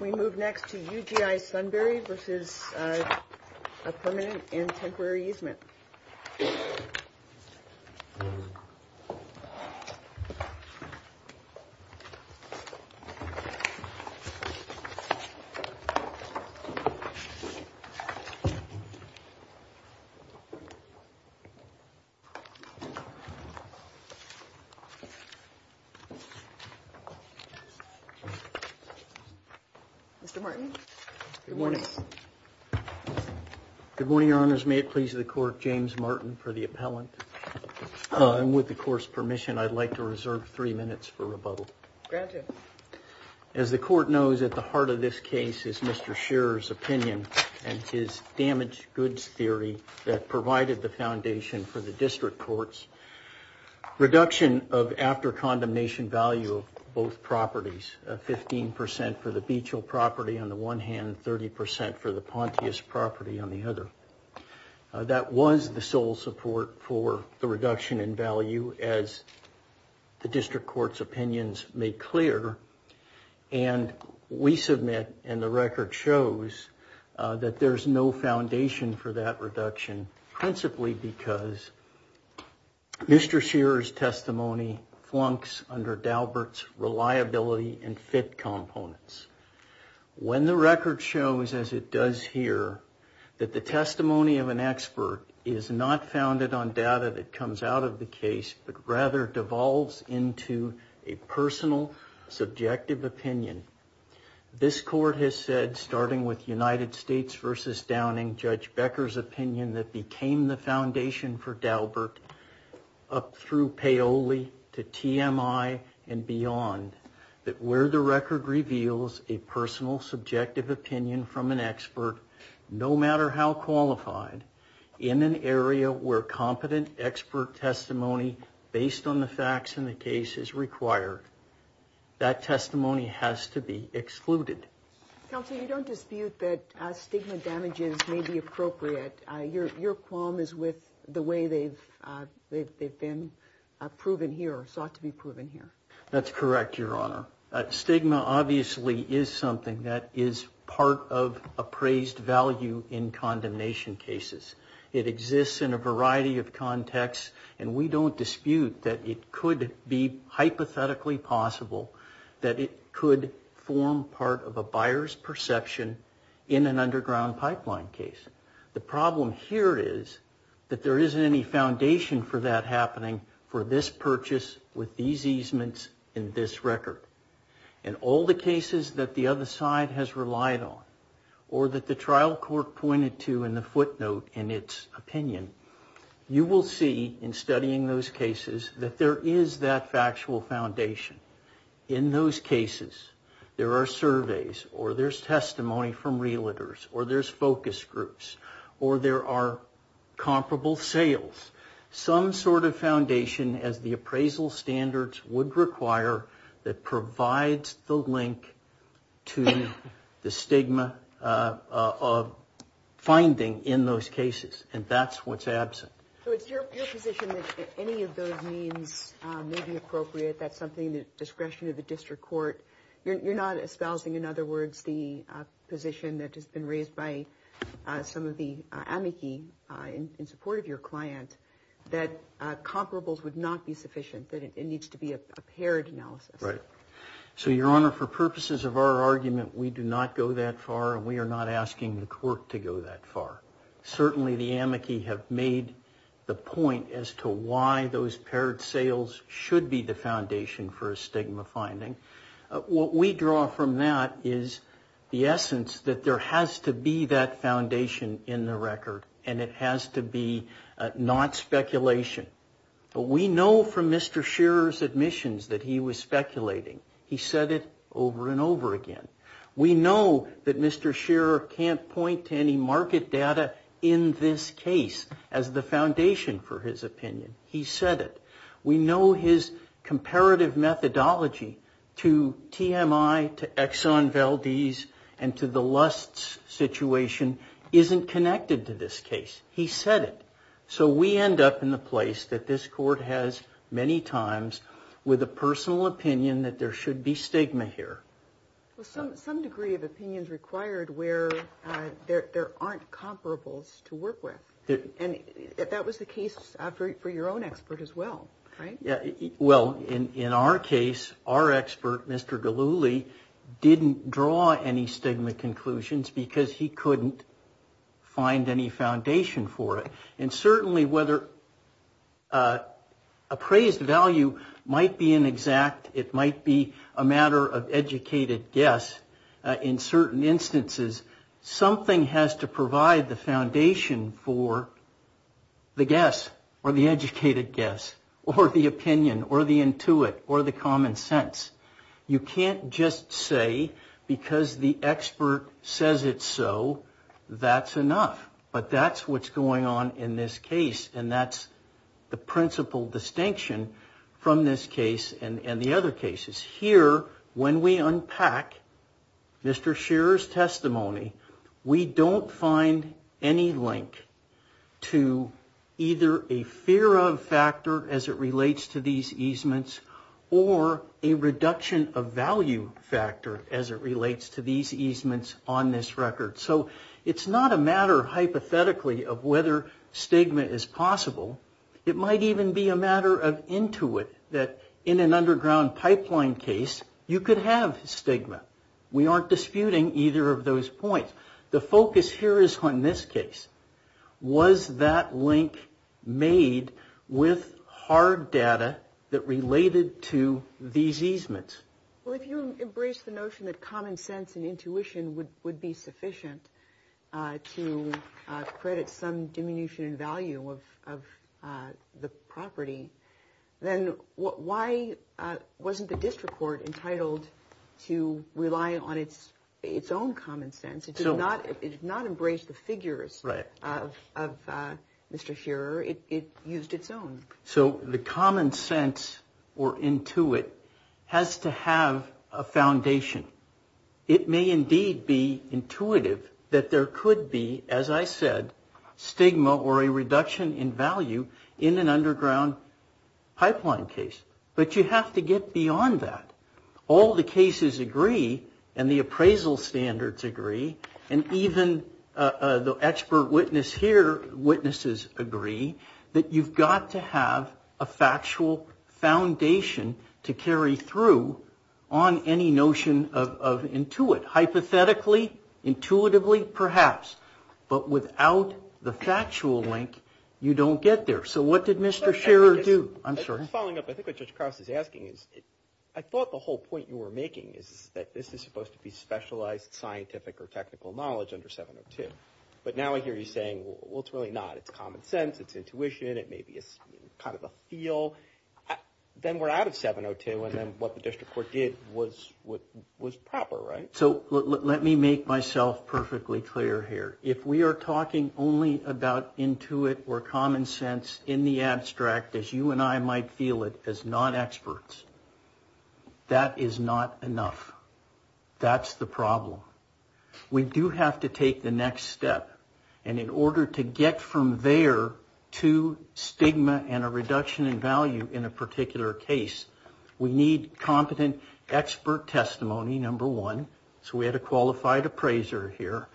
We move next to UGI Sunbury v. Permanent and Temporary Easement Mr. Martin. Good morning. Good morning, Your Honors. May it please the Court, James Martin for the appellant. And with the Court's permission, I'd like to reserve three minutes for rebuttal. Granted. As the Court knows, at the heart of this case is Mr. Scherer's opinion and his damaged goods theory that provided the foundation for the district courts. Reduction of after condemnation value of both properties, 15% for the Beechill property on the one hand, 30% for the Pontius property on the other. That was the sole support for the reduction in value as the district court's opinions made clear. And we submit and the record shows that there's no foundation for that reduction, principally because Mr. Scherer's testimony flunks under Daubert's reliability and fit components. When the record shows, as it does here, that the testimony of an expert is not founded on data that comes out of the case, but rather devolves into a personal subjective opinion. This Court has said, starting with United States v. Downing, Judge Becker's opinion that became the foundation for Daubert up through Paoli to TMI and beyond, that where the record reveals a personal subjective opinion from an expert, no matter how qualified, in an area where competent expert testimony based on the facts in the case is required, that testimony has to be excluded. Counsel, you don't dispute that stigma damages may be appropriate. Your qualm is with the way they've been proven here or sought to be proven here. That's correct, Your Honor. Stigma obviously is something that is part of appraised value in condemnation cases. It exists in a variety of contexts and we don't dispute that it could be hypothetically possible that it could form part of a buyer's perception in an underground pipeline case. The problem here is that there isn't any foundation for that happening for this purchase with these easements in this record. In all the cases that the other side has relied on or that the trial court pointed to in the footnote in its opinion, you will see in studying those cases that there is that factual foundation. In those cases, there are surveys or there's testimony from realtors or there's focus groups or there are comparable sales. Some sort of foundation, as the appraisal standards would require, that provides the link to the stigma of finding in those cases. And that's what's absent. So it's your position that any of those means may be appropriate. That's something the discretion of the district court. You're not espousing, in other words, the position that has been raised by some of the amici in support of your client that comparables would not be sufficient, that it needs to be a paired analysis. Right. So, Your Honor, for purposes of our argument, we do not go that far and we are not asking the court to go that far. Certainly, the amici have made the point as to why those paired sales should be the foundation for a stigma finding. What we draw from that is the essence that there has to be that foundation in the record and it has to be not speculation. But we know from Mr. Shearer's admissions that he was speculating. He said it over and over again. We know that Mr. Shearer can't point to any market data in this case as the foundation for his opinion. He said it. We know his comparative methodology to TMI, to Exxon Valdez, and to the Lusts situation isn't connected to this case. He said it. So we end up in the place that this court has many times with a personal opinion that there should be stigma here. Some degree of opinion is required where there aren't comparables to work with. And that was the case for your own expert as well, right? Well, in our case, our expert, Mr. Delulli, didn't draw any stigma conclusions because he couldn't find any foundation for it. And certainly whether appraised value might be an exact, it might be a matter of educated guess in certain instances, something has to provide the foundation for the guess or the educated guess or the opinion or the intuit or the common sense. You can't just say because the expert says it's so, that's enough. But that's what's going on in this case. And that's the principal distinction from this case and the other cases. Here, when we unpack Mr. Shearer's testimony, we don't find any link to either a fear of factor as it relates to these easements or a reduction of value factor as it relates to these easements on this record. So it's not a matter hypothetically of whether stigma is possible. It might even be a matter of intuit that in an underground pipeline case, you could have stigma. We aren't disputing either of those points. The focus here is on this case. Was that link made with hard data that related to these easements? Well, if you embrace the notion that common sense and intuition would be sufficient to credit some diminution in value of the property, then why wasn't the district court entitled to rely on its own common sense? It did not embrace the figures of Mr. Shearer. It used its own. So the common sense or intuit has to have a foundation. It may indeed be intuitive that there could be, as I said, stigma or a reduction in value in an underground pipeline case. But you have to get beyond that. All the cases agree, and the appraisal standards agree, and even the expert witnesses here agree, that you've got to have a factual foundation to carry through on any notion of intuit. Hypothetically, intuitively, perhaps, but without the factual link, you don't get there. So what did Mr. Shearer do? Following up, I think what Judge Cross is asking is, I thought the whole point you were making is that this is supposed to be specialized scientific or technical knowledge under 702. But now I hear you saying, well, it's really not. It's common sense. It's intuition. It may be kind of a feel. Then we're out of 702, and then what the district court did was proper, right? So let me make myself perfectly clear here. If we are talking only about intuit or common sense in the abstract, as you and I might feel it, as non-experts, that is not enough. That's the problem. We do have to take the next step, and in order to get from there to stigma and a reduction in value in a particular case, we need competent expert testimony, number one. So we had a qualified appraiser here,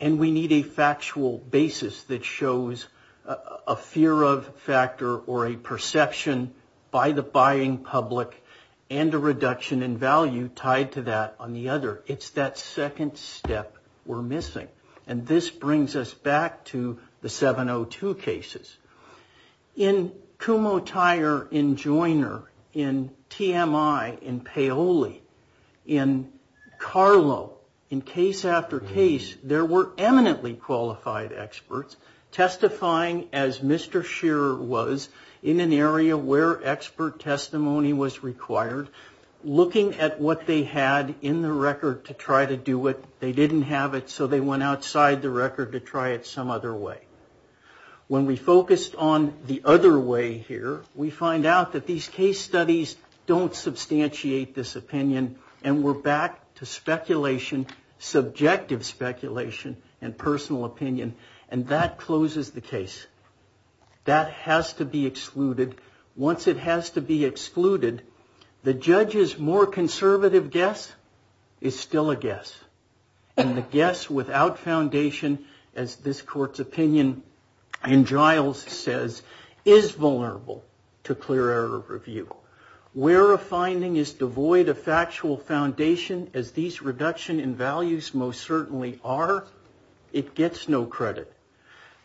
and we need a factual basis that shows a fear of factor or a perception by the buying public and a reduction in value tied to that on the other. It's that second step we're missing, and this brings us back to the 702 cases. In Kumotair, in Joiner, in TMI, in Paoli, in Carlo, in case after case, there were eminently qualified experts testifying as Mr. Shearer was in an area where expert testimony was required, looking at what they had in the record to try to do it. They didn't have it, so they went outside the record to try it some other way. When we focused on the other way here, we find out that these case studies don't substantiate this opinion, and we're back to speculation, subjective speculation, and personal opinion, and that closes the case. That has to be excluded. Once it has to be excluded, the judge's more conservative guess is still a guess, and the guess without foundation, as this court's opinion in Giles says, is vulnerable to clear error review. Where a finding is devoid of factual foundation, as these reduction in values most certainly are, it gets no credit.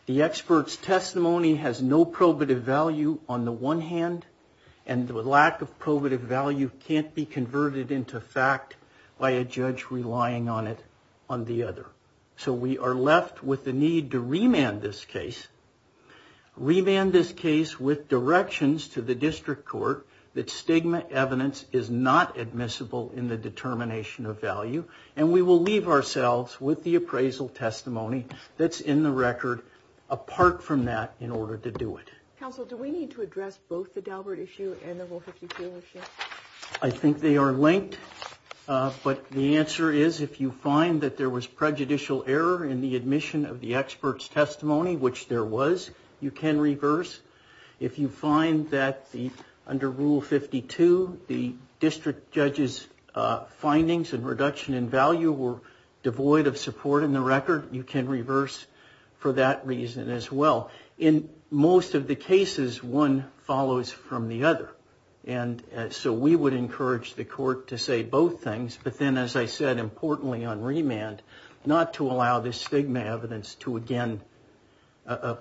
The expert's testimony has no probative value on the one hand, and the lack of probative value can't be converted into fact by a judge relying on it on the other. So we are left with the need to remand this case, remand this case with directions to the district court that stigma evidence is not admissible in the determination of value, and we will leave ourselves with the appraisal testimony that's in the record, apart from that, in order to do it. Counsel, do we need to address both the Daubert issue and the Rule 52 issue? I think they are linked, but the answer is if you find that there was prejudicial error in the admission of the expert's testimony, which there was, you can reverse. If you find that under Rule 52, the district judge's findings and reduction in value were devoid of support in the record, you can reverse for that reason as well. In most of the cases, one follows from the other, and so we would encourage the court to say both things, but then as I said, importantly on remand, not to allow this stigma evidence to again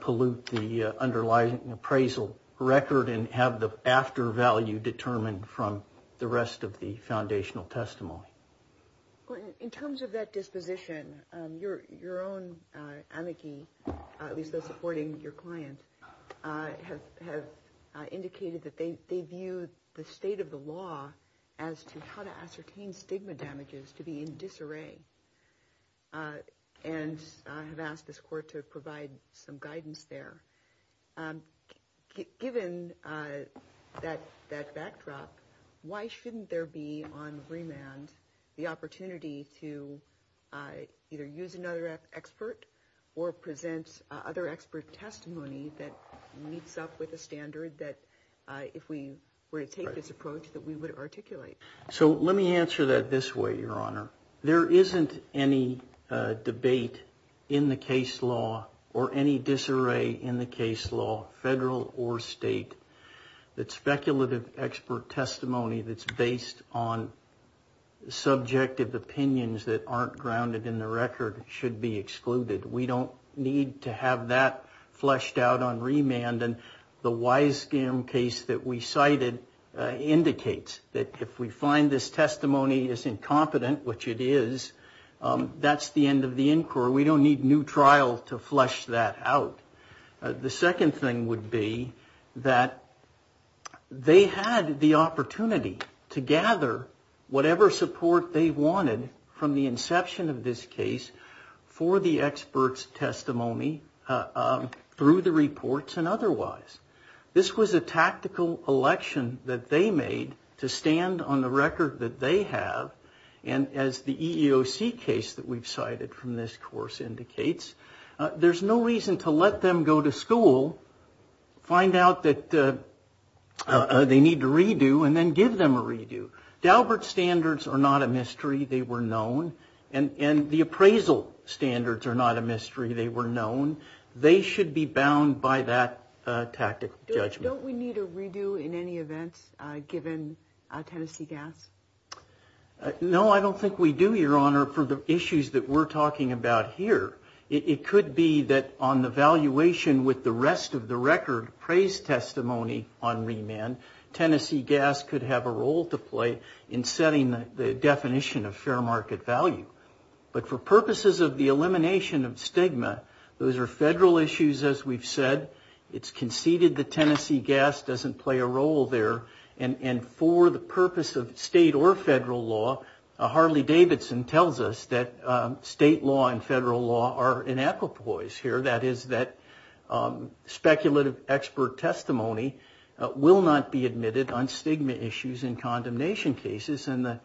pollute the underlying appraisal record and have the after value determined from the rest of the foundational testimony. In terms of that disposition, your own amici, at least those supporting your client, have indicated that they view the state of the law as to how to ascertain stigma damages to be in disarray and have asked this court to provide some guidance there. Given that backdrop, why shouldn't there be on remand the opportunity to either use another expert or present other expert testimony that meets up with a standard that if we were to take this approach, that we would articulate? Let me answer that this way, Your Honor. There isn't any debate in the case law or any disarray in the case law, federal or state, that speculative expert testimony that's based on subjective opinions that aren't grounded in the record should be excluded. We don't need to have that fleshed out on remand, and the Wisegum case that we cited indicates that if we find this testimony is incompetent, which it is, that's the end of the inquiry. We don't need new trial to flesh that out. The second thing would be that they had the opportunity to gather whatever support they wanted from the inception of this case for the expert's testimony through the reports and otherwise. This was a tactical election that they made to stand on the record that they have, and as the EEOC case that we've cited from this course indicates, there's no reason to let them go to school, find out that they need to redo, and then give them a redo. Daubert standards are not a mystery. They were known, and the appraisal standards are not a mystery. They were known. They should be bound by that tactical judgment. Don't we need a redo in any event given Tennessee Gas? No, I don't think we do, Your Honor, for the issues that we're talking about here. It could be that on the valuation with the rest of the record, praise testimony on remand, Tennessee Gas could have a role to play in setting the definition of fair market value. But for purposes of the elimination of stigma, those are federal issues, as we've said. It's conceded that Tennessee Gas doesn't play a role there. And for the purpose of state or federal law, Harley-Davidson tells us that state law and federal law are in equipoise here, that is that speculative expert testimony will not be admitted on stigma issues in condemnation cases. And the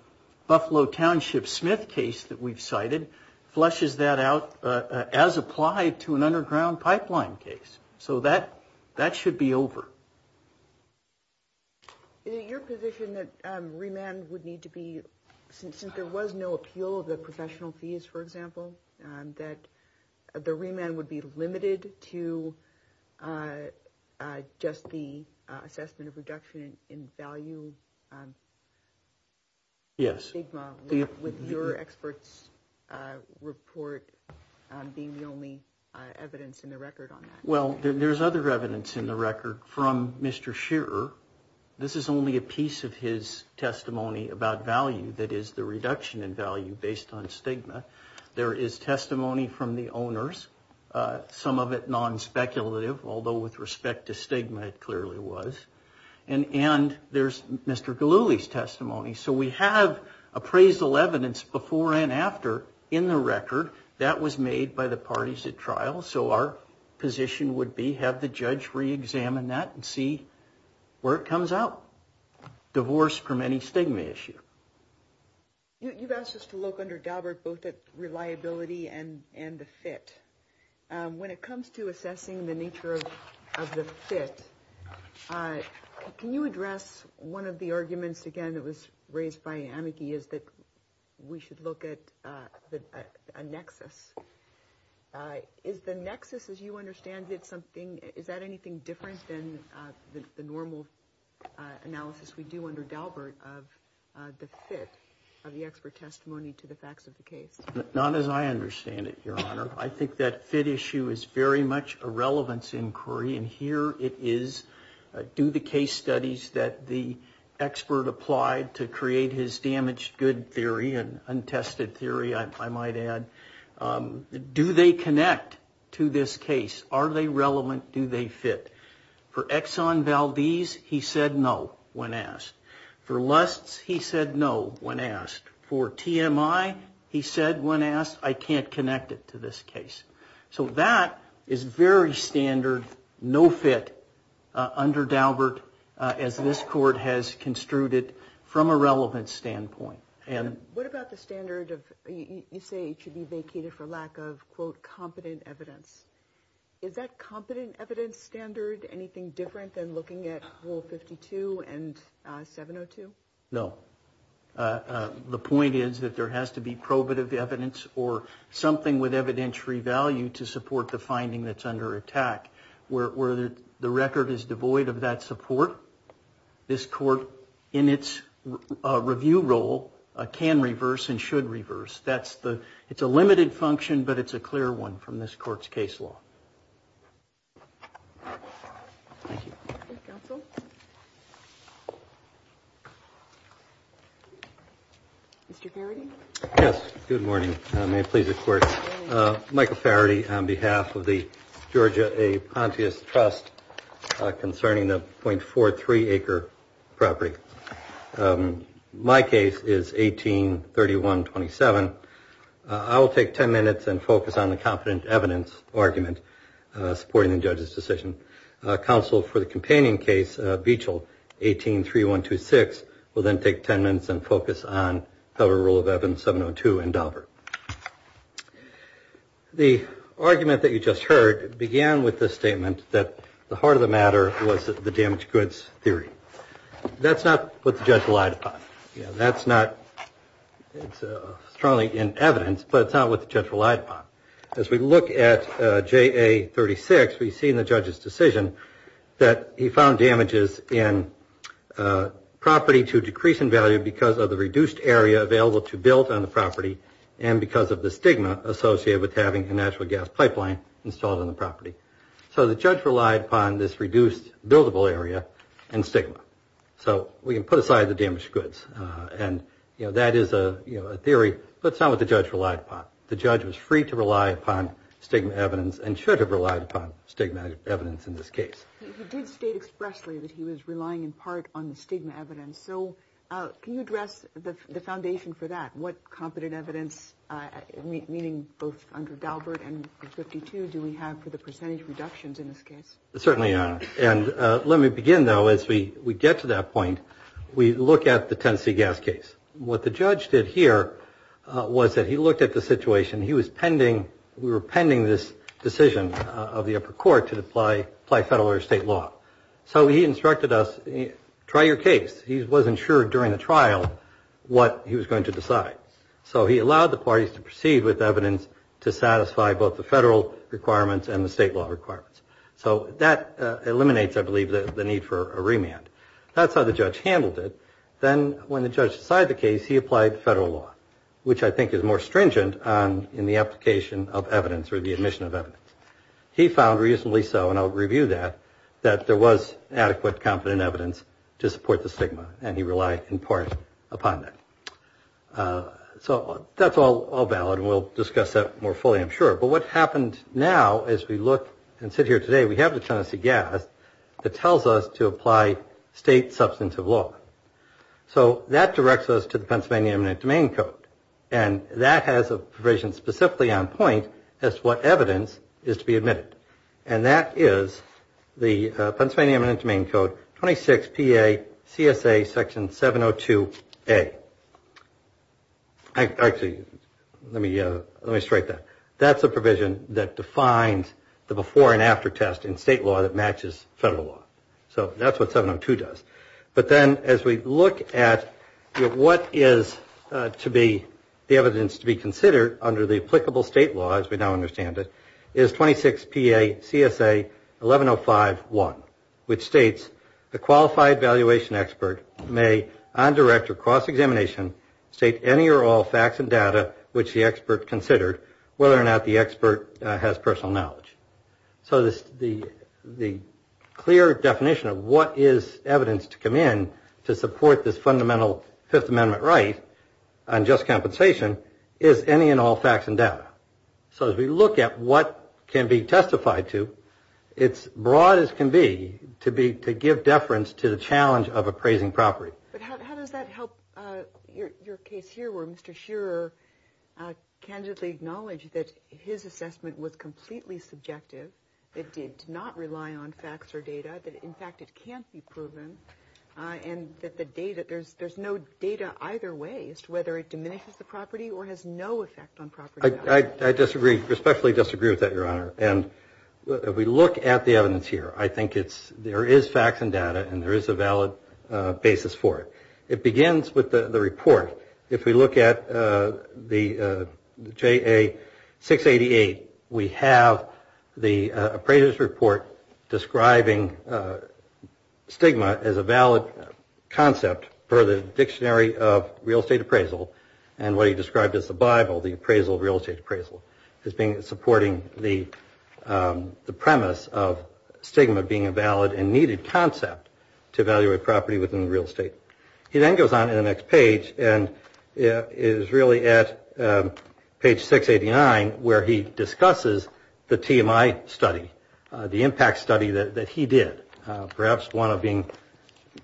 Buffalo Township Smith case that we've cited flushes that out as applied to an underground pipeline case. So that should be over. Is it your position that remand would need to be, since there was no appeal of the professional fees, for example, that the remand would be limited to just the assessment of reduction in value? Yes. Stigma, with your expert's report being the only evidence in the record on that? Well, there's other evidence in the record from Mr. Shearer. This is only a piece of his testimony about value that is the reduction in value based on stigma. There is testimony from the owners, some of it non-speculative, although with respect to stigma, it clearly was. And there's Mr. Galluli's testimony. So we have appraisal evidence before and after in the record. That was made by the parties at trial. So our position would be have the judge re-examine that and see where it comes out. Divorce from any stigma issue. You've asked us to look under Daubert both at reliability and the fit. When it comes to assessing the nature of the fit, can you address one of the arguments, again, that was raised by Amiki, is that we should look at a nexus? Is the nexus, as you understand it, is that anything different than the normal analysis we do under Daubert of the fit of the expert testimony to the facts of the case? Not as I understand it, Your Honor. I think that fit issue is very much a relevance inquiry. And here it is. Do the case studies that the expert applied to create his damaged good theory and untested theory, I might add, do they connect to this case? Are they relevant? Do they fit? For Exxon Valdez, he said no when asked. For Lusts, he said no when asked. For TMI, he said when asked, I can't connect it to this case. So that is very standard, no fit under Daubert as this court has construed it from a relevance standpoint. What about the standard of, you say it should be vacated for lack of, quote, competent evidence. Is that competent evidence standard anything different than looking at Rule 52 and 702? No. The point is that there has to be probative evidence or something with evidentiary value to support the finding that's under attack. Where the record is devoid of that support, this court in its review role can reverse and should reverse. It's a limited function, but it's a clear one from this court's case law. Thank you. Thank you, counsel. Mr. Faraday? Yes, good morning. May it please the court. Michael Faraday on behalf of the Georgia A. Pontius Trust concerning the 0.43 acre property. My case is 1831-27. I will take 10 minutes and focus on the competent evidence argument supporting the judge's decision. Counsel for the companion case, Beechel, 1831-26, will then take 10 minutes and focus on Federal Rule of Evidence 702 and Daubert. The argument that you just heard began with the statement that the heart of the matter was the damaged goods theory. That's not what the judge relied upon. That's not strongly in evidence, but it's not what the judge relied upon. As we look at JA-36, we see in the judge's decision that he found damages in property to decrease in value because of the reduced area available to build on the property and because of the stigma associated with having a natural gas pipeline installed on the property. So the judge relied upon this reduced buildable area and stigma. So we can put aside the damaged goods. And, you know, that is a theory, but it's not what the judge relied upon. The judge was free to rely upon stigma evidence and should have relied upon stigma evidence in this case. He did state expressly that he was relying in part on the stigma evidence. So can you address the foundation for that? What competent evidence, meaning both under Daubert and 52, do we have for the percentage reductions in this case? Certainly, Your Honor. And let me begin, though, as we get to that point. We look at the Tennessee gas case. What the judge did here was that he looked at the situation. We were pending this decision of the upper court to apply federal or state law. So he instructed us, try your case. He wasn't sure during the trial what he was going to decide. So he allowed the parties to proceed with evidence to satisfy both the federal requirements and the state law requirements. So that eliminates, I believe, the need for a remand. That's how the judge handled it. Then when the judge decided the case, he applied federal law, which I think is more stringent in the application of evidence or the admission of evidence. He found reasonably so, and I'll review that, that there was adequate competent evidence to support the stigma. And he relied in part upon that. So that's all valid. We'll discuss that more fully, I'm sure. But what happened now is we look and sit here today. We have the Tennessee gas that tells us to apply state substantive law. So that directs us to the Pennsylvania Eminent Domain Code. And that has a provision specifically on point as to what evidence is to be admitted. And that is the Pennsylvania Eminent Domain Code 26 P.A. C.S.A. Section 702 A. Actually, let me just write that. That's a provision that defines the before and after test in state law that matches federal law. So that's what 702 does. But then as we look at what is to be the evidence to be considered under the applicable state law, as we now understand it, is 26 P.A. C.S.A. 11051, which states the qualified valuation expert may undirect or cross-examination state any or all facts and data which the expert considered, whether or not the expert has personal knowledge. So the clear definition of what is evidence to come in to support this fundamental Fifth Amendment right on just compensation is any and all facts and data. So as we look at what can be testified to, it's broad as can be, to give deference to the challenge of appraising property. But how does that help your case here where Mr. Shearer candidly acknowledged that his assessment was completely subjective, it did not rely on facts or data, that in fact it can't be proven, and that there's no data either way as to whether it diminishes the property or has no effect on property. I disagree, respectfully disagree with that, Your Honor. And if we look at the evidence here, I think there is facts and data and there is a valid basis for it. It begins with the report. If we look at the J.A. 688, we have the appraiser's report describing stigma as a valid concept for the dictionary of real estate appraisal and what he described as the Bible, the appraisal of real estate appraisal, as being supporting the premise of stigma being a valid and needed concept to evaluate property within real estate. He then goes on to the next page and is really at page 689 where he discusses the TMI study, the impact study that he did, perhaps one of being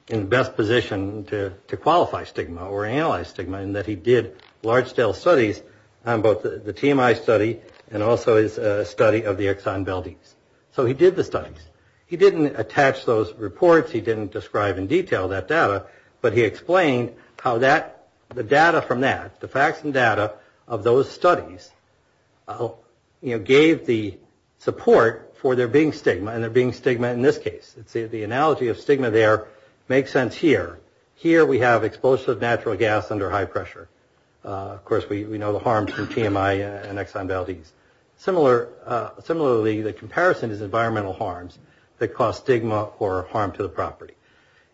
in the best position to qualify stigma or analyze stigma, in that he did large-scale studies on both the TMI study and also his study of the Exxon Valdez. So he did the studies. He didn't attach those reports. He didn't describe in detail that data. But he explained how the data from that, the facts and data of those studies, gave the support for there being stigma and there being stigma in this case. The analogy of stigma there makes sense here. Here we have explosive natural gas under high pressure. Of course, we know the harms from TMI and Exxon Valdez. Similarly, the comparison is environmental harms that cause stigma or harm to the property.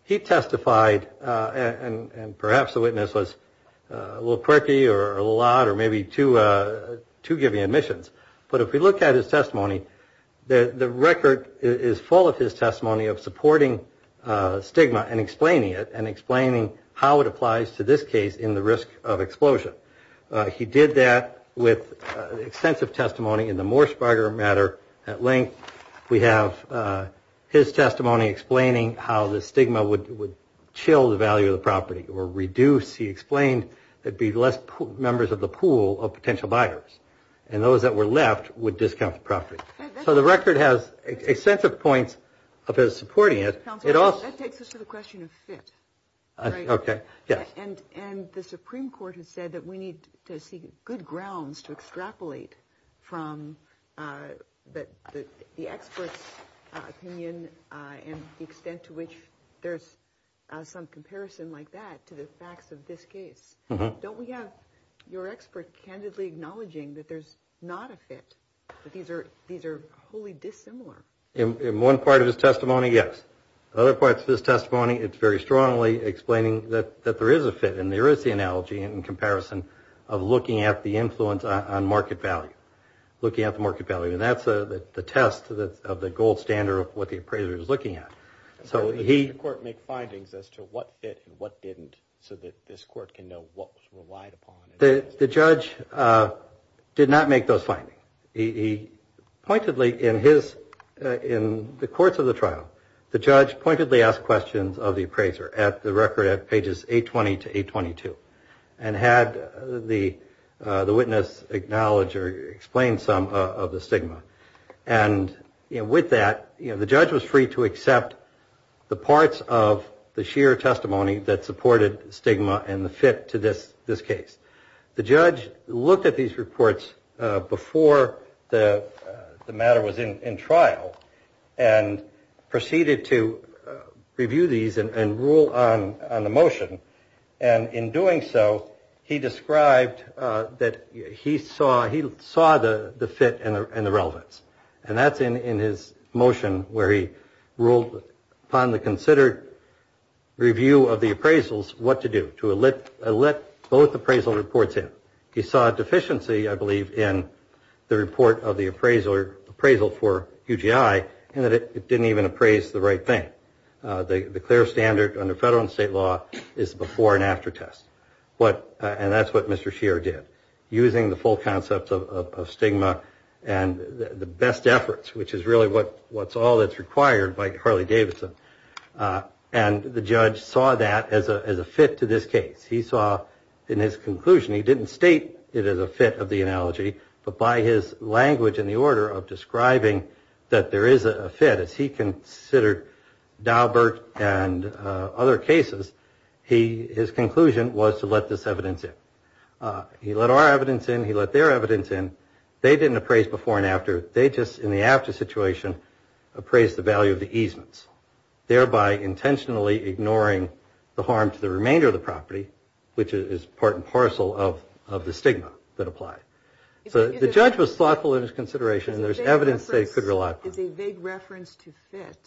He testified, and perhaps the witness was a little quirky or a little odd or maybe too giving admissions, but if we look at his testimony, the record is full of his testimony of supporting stigma and explaining it and explaining how it applies to this case in the risk of explosion. He did that with extensive testimony in the Morse Barger matter at length. We have his testimony explaining how the stigma would chill the value of the property or reduce. He explained there'd be less members of the pool of potential buyers. And those that were left would discount the property. So the record has extensive points of his supporting it. Counsel, that takes us to the question of fit, right? Okay, yes. And the Supreme Court has said that we need to seek good grounds to extrapolate from the expert's opinion and the extent to which there's some comparison like that to the facts of this case. Don't we have your expert candidly acknowledging that there's not a fit, that these are wholly dissimilar? In one part of his testimony, yes. In other parts of his testimony, it's very strongly explaining that there is a fit and there is the analogy in comparison of looking at the influence on market value, looking at the market value. And that's the test of the gold standard of what the appraiser is looking at. So he- Did the court make findings as to what fit and what didn't so that this court can know what was relied upon? The judge did not make those findings. Pointedly, in the courts of the trial, the judge pointedly asked questions of the appraiser at the record at pages 820 to 822 and had the witness acknowledge or explain some of the stigma. And with that, the judge was free to accept the parts of the sheer testimony that supported stigma and the fit to this case. The judge looked at these reports before the matter was in trial and proceeded to review these and rule on the motion. And in doing so, he described that he saw the fit and the relevance. And that's in his motion where he ruled upon the considered review of the appraisals what to do, to let both appraisal reports in. He saw a deficiency, I believe, in the report of the appraisal for UGI in that it didn't even appraise the right thing. The clear standard under federal and state law is before and after test. And that's what Mr. Shearer did, using the full concept of stigma and the best efforts, which is really what's all that's required by Harley-Davidson. And the judge saw that as a fit to this case. He saw in his conclusion, he didn't state it as a fit of the analogy, but by his language in the order of describing that there is a fit, as he considered Daubert and other cases, his conclusion was to let this evidence in. He let our evidence in. He let their evidence in. They didn't appraise before and after. They just, in the after situation, appraised the value of the easements, thereby intentionally ignoring the harm to the remainder of the property, which is part and parcel of the stigma that applied. So the judge was thoughtful in his consideration, and there's evidence they could rely upon. Is a vague reference to fit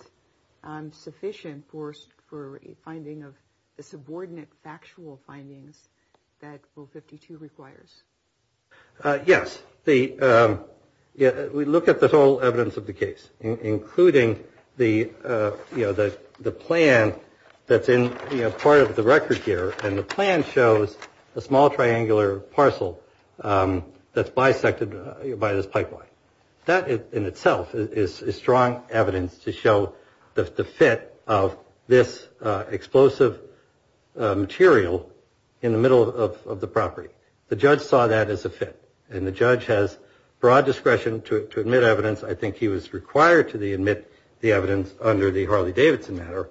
sufficient for a finding of the subordinate factual findings that O52 requires? Yes. We look at the total evidence of the case, including the plan that's in part of the record here, and the plan shows a small triangular parcel that's bisected by this pipeline. That in itself is strong evidence to show the fit of this explosive material in the middle of the property. The judge saw that as a fit, and the judge has broad discretion to admit evidence. I think he was required to admit the evidence under the Harley-Davidson matter,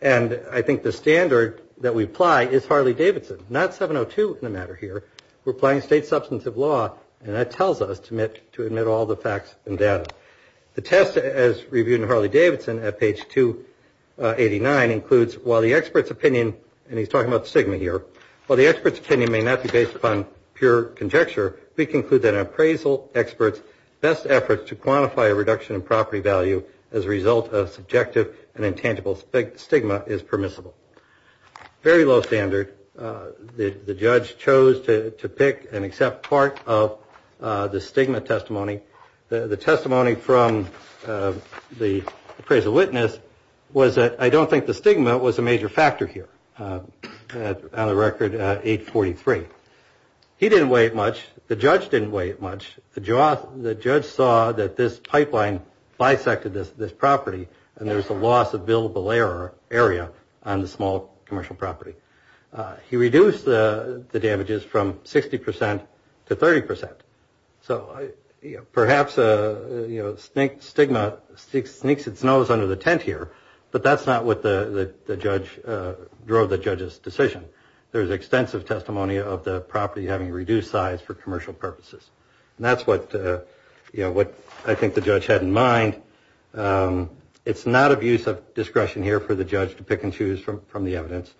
and I think the standard that we apply is Harley-Davidson, not 702 in the matter here. We're applying state substantive law, and that tells us to admit all the facts and data. The test as reviewed in Harley-Davidson at page 289 includes, while the expert's opinion, and he's talking about stigma here, while the expert's opinion may not be based upon pure conjecture, we conclude that an appraisal expert's best efforts to quantify a reduction in property value as a result of subjective and intangible stigma is permissible. Very low standard. The judge chose to pick and accept part of the stigma testimony. The testimony from the appraisal witness was that I don't think the stigma was a major factor here. On the record, 843. He didn't weigh it much. The judge didn't weigh it much. The judge saw that this pipeline bisected this property, and there was a loss of billable area on the small commercial property. He reduced the damages from 60% to 30%. So perhaps stigma sneaks its nose under the tent here, but that's not what the judge drove the judge's decision. There's extensive testimony of the property having reduced size for commercial purposes, and that's what I think the judge had in mind. It's not of use of discretion here for the judge to pick and choose from the evidence.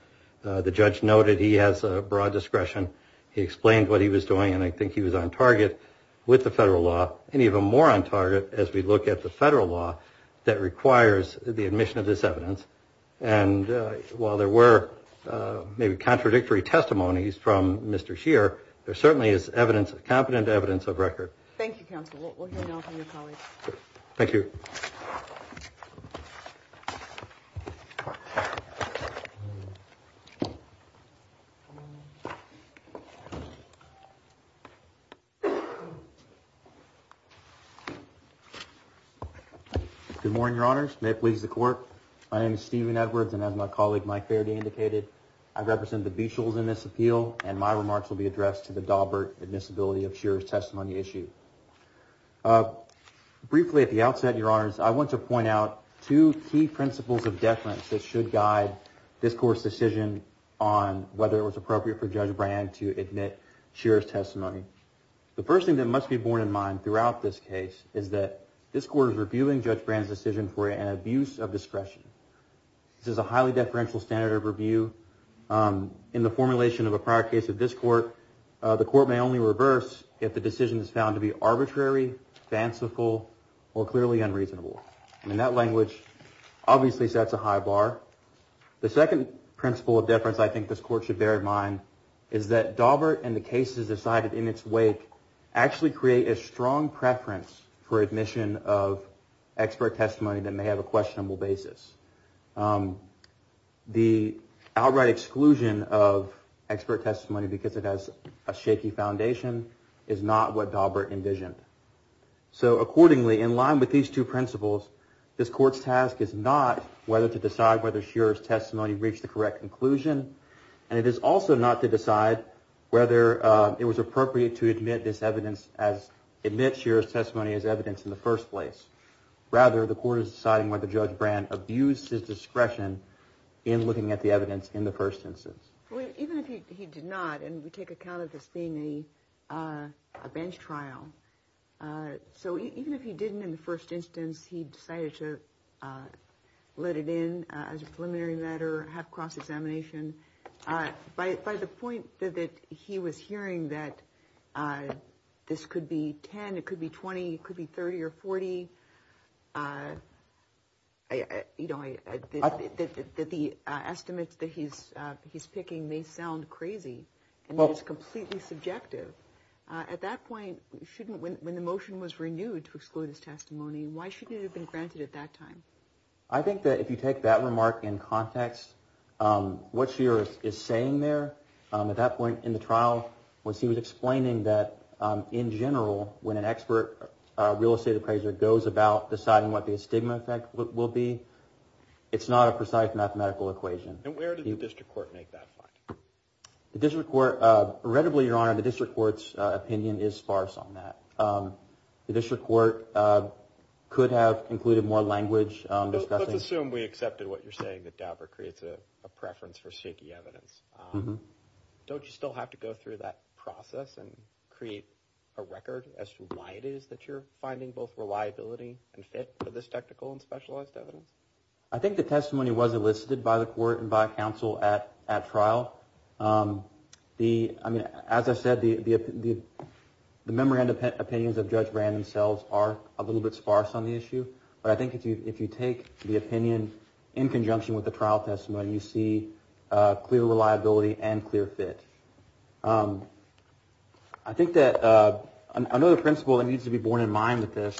The judge noted he has broad discretion. He explained what he was doing, and I think he was on target with the federal law, and even more on target as we look at the federal law that requires the admission of this evidence. And while there were maybe contradictory testimonies from Mr. Scheer, there certainly is evidence, competent evidence of record. Thank you, counsel. We'll hear now from your colleagues. Thank you. Good morning, Your Honors. May it please the Court. My name is Stephen Edwards, and as my colleague Mike Faraday indicated, I represent the Beachels in this appeal, and my remarks will be addressed to the Daubert admissibility of Scheer's testimony issue. Briefly at the outset, Your Honors, I want to point out two key principles of deference that should guide this Court's decision on whether it was appropriate for Judge Brand to admit Scheer's testimony. The first thing that must be borne in mind throughout this case is that this Court is reviewing Judge Brand's decision for an abuse of discretion. This is a highly deferential standard of review. In the formulation of a prior case of this Court, the Court may only reverse if the decision is found to be arbitrary, fanciful, or clearly unreasonable. And that language obviously sets a high bar. The second principle of deference I think this Court should bear in mind is that Daubert and the cases decided in its wake actually create a strong preference for admission of expert testimony that may have a questionable basis. The outright exclusion of expert testimony because it has a shaky foundation is not what Daubert envisioned. This Court's task is not whether to decide whether Scheer's testimony reached the correct conclusion, and it is also not to decide whether it was appropriate to admit Scheer's testimony as evidence in the first place. Rather, the Court is deciding whether Judge Brand abused his discretion in looking at the evidence in the first instance. Even if he did not, and we take account of this being a bench trial, so even if he didn't in the first instance, he decided to let it in as a preliminary matter, have cross-examination. By the point that he was hearing that this could be 10, it could be 20, it could be 30 or 40, that the estimates that he's picking may sound crazy and it is completely subjective. At that point, when the motion was renewed to exclude his testimony, why shouldn't it have been granted at that time? I think that if you take that remark in context, what Scheer is saying there at that point in the trial was he was explaining that in general, when an expert real estate appraiser goes about deciding what the stigma effect will be, it's not a precise mathematical equation. And where did the District Court make that point? The District Court, readably, Your Honor, the District Court's opinion is sparse on that. The District Court could have included more language. Let's assume we accepted what you're saying, that DAPR creates a preference for shaky evidence. Don't you still have to go through that process and create a record as to why it is that you're finding both reliability and fit for this technical and specialized evidence? I think the testimony was elicited by the court and by counsel at trial. As I said, the memory and opinions of Judge Brand themselves are a little bit sparse on the issue. But I think if you take the opinion in conjunction with the trial testimony, you see clear reliability and clear fit. I think that another principle that needs to be borne in mind with this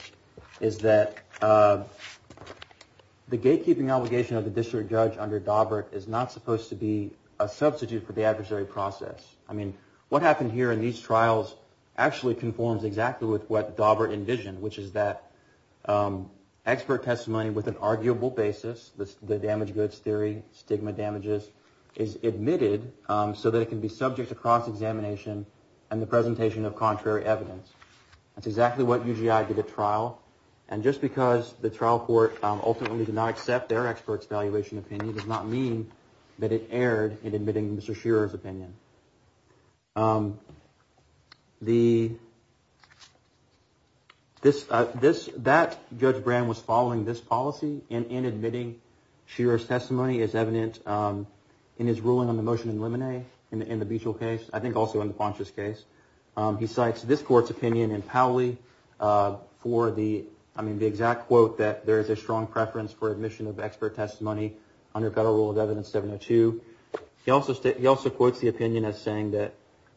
is that the gatekeeping obligation of the district judge under Daubert is not supposed to be a substitute for the adversary process. I mean, what happened here in these trials actually conforms exactly with what Daubert envisioned, which is that expert testimony with an arguable basis, the damaged goods theory, stigma damages, is admitted so that it can be subject to cross-examination and the presentation of contrary evidence. That's exactly what UGI did at trial. And just because the trial court ultimately did not accept their expert's evaluation opinion does not mean that it erred in admitting Mr. Shearer's opinion. That Judge Brand was following this policy in admitting Shearer's testimony is evident in his ruling on the motion in Lemonnet in the Beachell case, I think also in the Pontius case. He cites this court's opinion in Powley for the exact quote that there is a strong preference for admission of expert testimony under Federal Rule of Evidence 702. He also quotes the opinion as saying that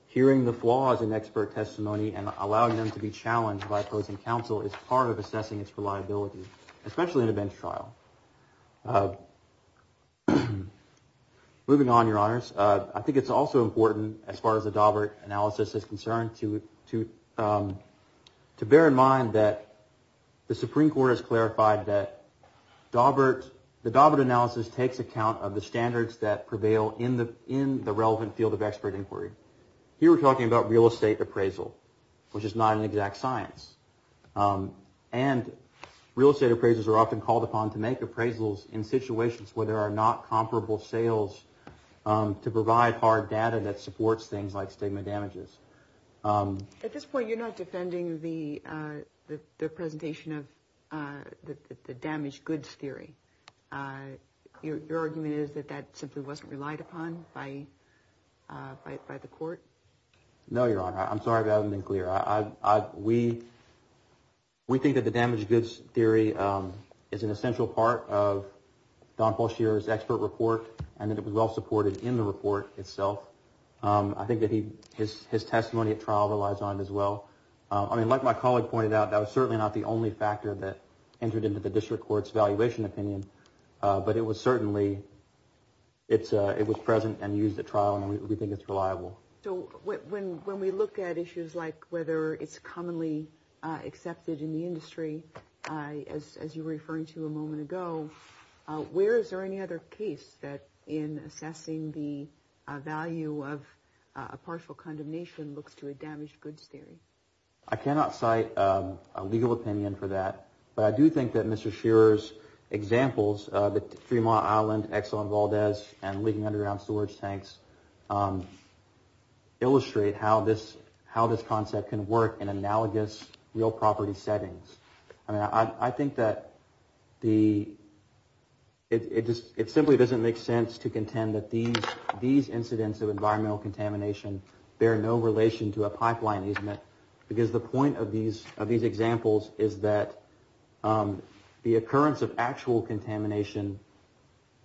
hearing the flaws in expert testimony and allowing them to be challenged by opposing counsel is part of assessing its reliability, especially in a bench trial. Moving on, Your Honors, I think it's also important as far as the Daubert analysis is concerned to bear in mind that the Supreme Court has clarified that the Daubert analysis takes account of the standards that prevail in the relevant field of expert inquiry. Here we're talking about real estate appraisal, which is not an exact science. And real estate appraisers are often called upon to make appraisals in situations where there are not comparable sales to provide hard data that supports things like stigma damages. At this point, you're not defending the presentation of the damaged goods theory. Your argument is that that simply wasn't relied upon by the court? No, Your Honor. I'm sorry if that hasn't been clear. We think that the damaged goods theory is an essential part of Don Falshear's expert report and that it was well supported in the report itself. I think that his testimony at trial relies on it as well. I mean, like my colleague pointed out, that was certainly not the only factor that entered into the district court's valuation opinion, but it was certainly present and used at trial and we think it's reliable. So when we look at issues like whether it's commonly accepted in the industry, as you were referring to a moment ago, where is there any other case that in assessing the value of a partial condemnation looks to a damaged goods theory? I cannot cite a legal opinion for that, but I do think that Mr. Shearer's examples, the Fremont Island, Exxon Valdez, and Leading Underground Storage Tanks, illustrate how this concept can work in analogous real property settings. I mean, I think that it simply doesn't make sense to contend that these incidents of environmental contamination bear no relation to a pipeline easement because the point of these examples is that the occurrence of actual contamination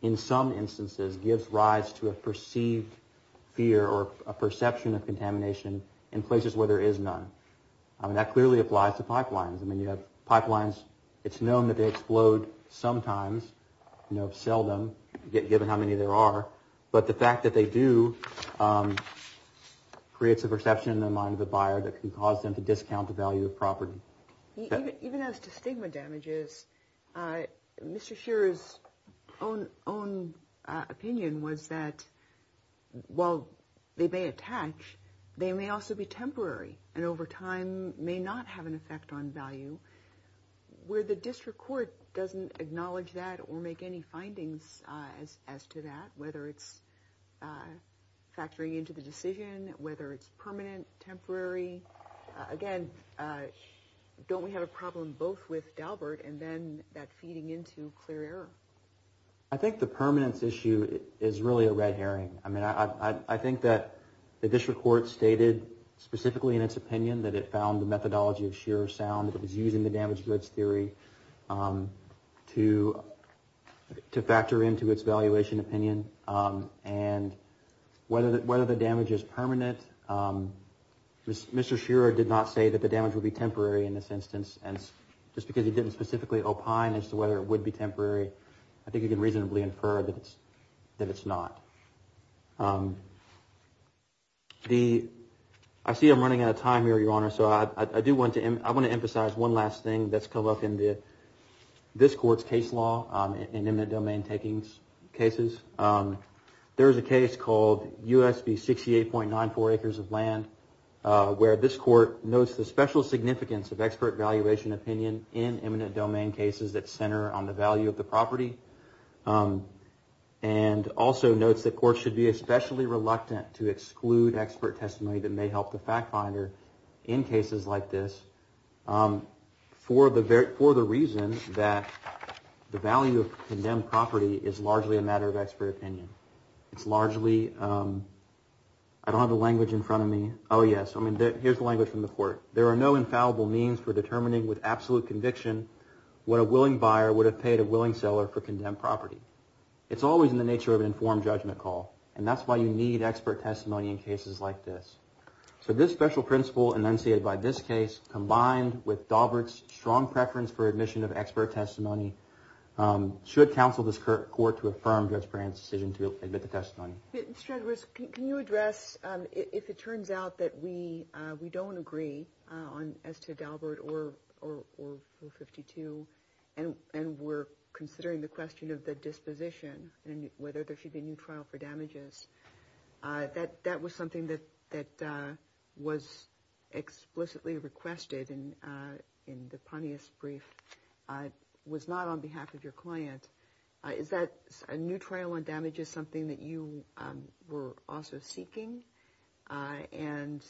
in some instances gives rise to a perceived fear or a perception of contamination in places where there is none. I mean, that clearly applies to pipelines. I mean, you have pipelines, it's known that they explode sometimes, seldom, given how many there are. But the fact that they do creates a perception in the mind of the buyer that can cause them to discount the value of property. Even as to stigma damages, Mr. Shearer's own opinion was that while they may attach, they may also be temporary and over time may not have an effect on value. Where the district court doesn't acknowledge that or make any findings as to that, whether it's factoring into the decision, whether it's permanent, temporary, again, don't we have a problem both with Dalbert and then that feeding into clear error? I think the permanence issue is really a red herring. I mean, I think that the district court stated specifically in its opinion that it found the methodology of Shearer sound, that it was using the damage risk theory to factor into its valuation opinion. And whether the damage is permanent, Mr. Shearer did not say that the damage would be temporary in this instance. And just because he didn't specifically opine as to whether it would be temporary, I think you can reasonably infer that it's not. I see I'm running out of time here, Your Honor, so I do want to emphasize one last thing that's come up in this court's case law in eminent domain takings cases. There is a case called USB 68.94 acres of land where this court notes the special significance of expert valuation opinion in eminent domain cases that center on the value of the property and also notes that courts should be especially reluctant to exclude expert testimony that may help the fact finder in cases like this for the reason that the value of condemned property is largely a matter of expert opinion. It's largely, I don't have the language in front of me. Oh, yes, I mean, here's the language from the court. There are no infallible means for determining with absolute conviction what a willing buyer would have paid a willing seller for condemned property. It's always in the nature of an informed judgment call, and that's why you need expert testimony in cases like this. So this special principle enunciated by this case combined with Daubert's strong preference for admission of expert testimony should counsel this court to affirm Judge Brand's decision to admit the testimony. Judge, can you address if it turns out that we don't agree as to Daubert or O52 and we're considering the question of the disposition and whether there should be a new trial for damages? That was something that was explicitly requested in the Pontius brief. It was not on behalf of your client. Is that a new trial on damages something that you were also seeking? And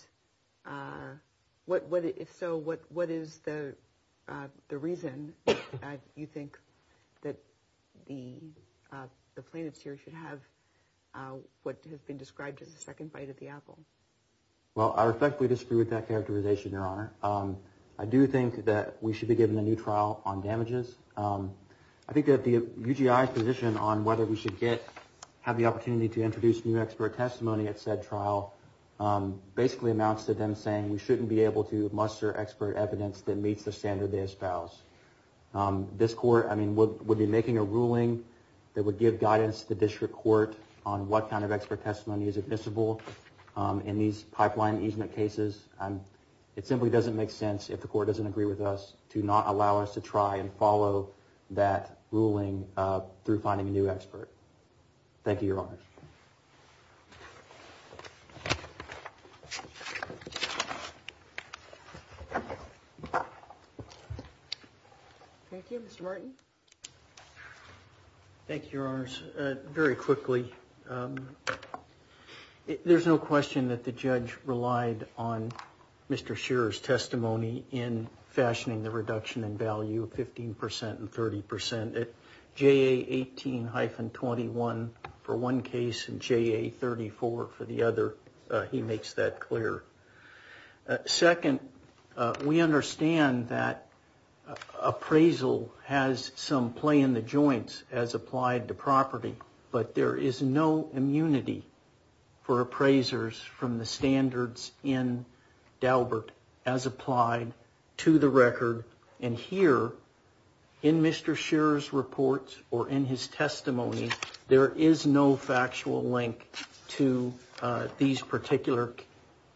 if so, what is the reason you think that the plaintiffs here should have what has been described as the second bite of the apple? Well, I respectfully disagree with that characterization, Your Honor. I do think that we should be given a new trial on damages. I think that the UGI's position on whether we should have the opportunity to introduce new expert testimony at said trial basically amounts to them saying we shouldn't be able to muster expert evidence that meets the standard they espouse. This court would be making a ruling that would give guidance to the district court on what kind of expert testimony is admissible in these pipeline easement cases. It simply doesn't make sense, if the court doesn't agree with us, to not allow us to try and follow that ruling through finding a new expert. Thank you, Your Honor. Thank you. Mr. Martin? Thank you, Your Honors. Very quickly, there's no question that the judge relied on Mr. Shearer's testimony in fashioning the reduction in value of 15% and 30%. At JA 18-21 for one case and JA 34 for the other, he makes that clear. Second, we understand that appraisal has some play in the joints as applied to property, but there is no immunity for appraisers from the standards in Daubert as applied to the record. And here, in Mr. Shearer's report or in his testimony, there is no factual link to these particular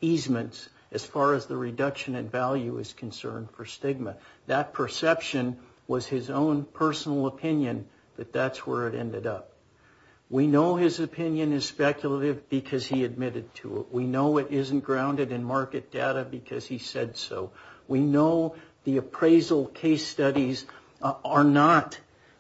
easements as far as the reduction in value is concerned for stigma. That perception was his own personal opinion, but that's where it ended up. We know his opinion is speculative because he admitted to it. We know it isn't grounded in market data because he said so. We know the appraisal case studies are not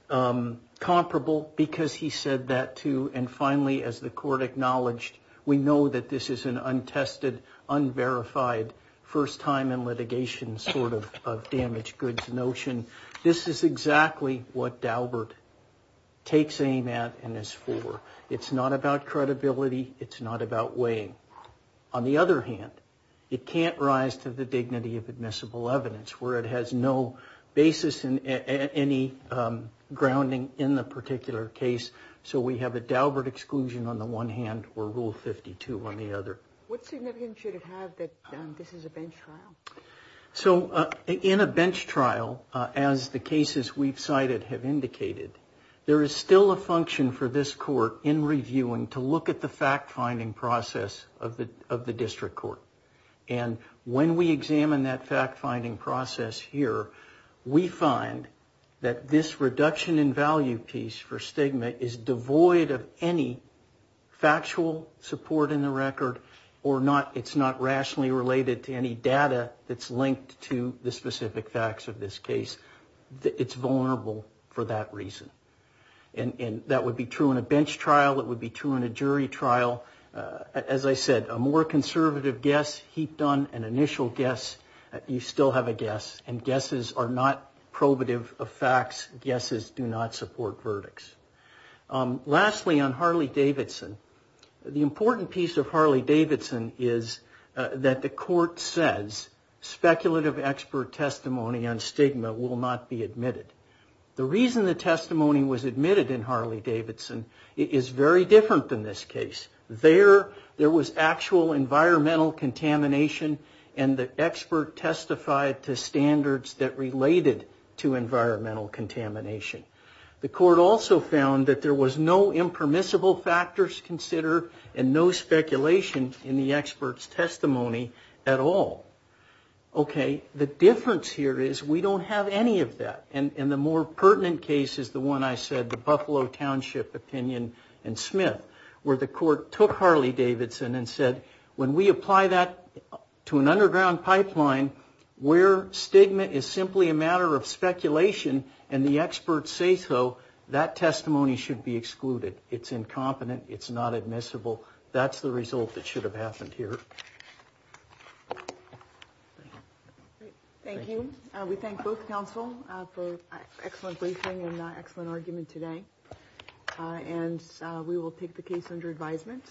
comparable because he said that, too. And finally, as the court acknowledged, we know that this is an untested, unverified, first-time-in-litigation sort of damaged goods notion. This is exactly what Daubert takes aim at and is for. It's not about credibility. It's not about weighing. On the other hand, it can't rise to the dignity of admissible evidence where it has no basis in any grounding in the particular case. So we have a Daubert exclusion on the one hand or Rule 52 on the other. What significance should it have that this is a bench trial? So in a bench trial, as the cases we've cited have indicated, there is still a function for this court in reviewing to look at the fact-finding process of the district court. And when we examine that fact-finding process here, we find that this reduction in value piece for stigma is devoid of any factual support in the record or it's not rationally related to any data that's linked to the specific facts of this case. It's vulnerable for that reason. And that would be true in a bench trial. It would be true in a jury trial. As I said, a more conservative guess heaped on an initial guess, you still have a guess. And guesses are not probative of facts. Guesses do not support verdicts. Lastly, on Harley-Davidson, the important piece of Harley-Davidson is that the court says, speculative expert testimony on stigma will not be admitted. The reason the testimony was admitted in Harley-Davidson is very different than this case. There, there was actual environmental contamination, and the expert testified to standards that related to environmental contamination. The court also found that there was no impermissible factors considered and no speculation in the expert's testimony at all. Okay, the difference here is we don't have any of that. And the more pertinent case is the one I said, the Buffalo Township opinion and Smith, where the court took Harley-Davidson and said, when we apply that to an underground pipeline where stigma is simply a matter of speculation and the experts say so, that testimony should be excluded. It's incompetent. It's not admissible. That's the result that should have happened here. Thank you. We thank both counsel for excellent briefing and excellent argument today. And we will take the case under advisement.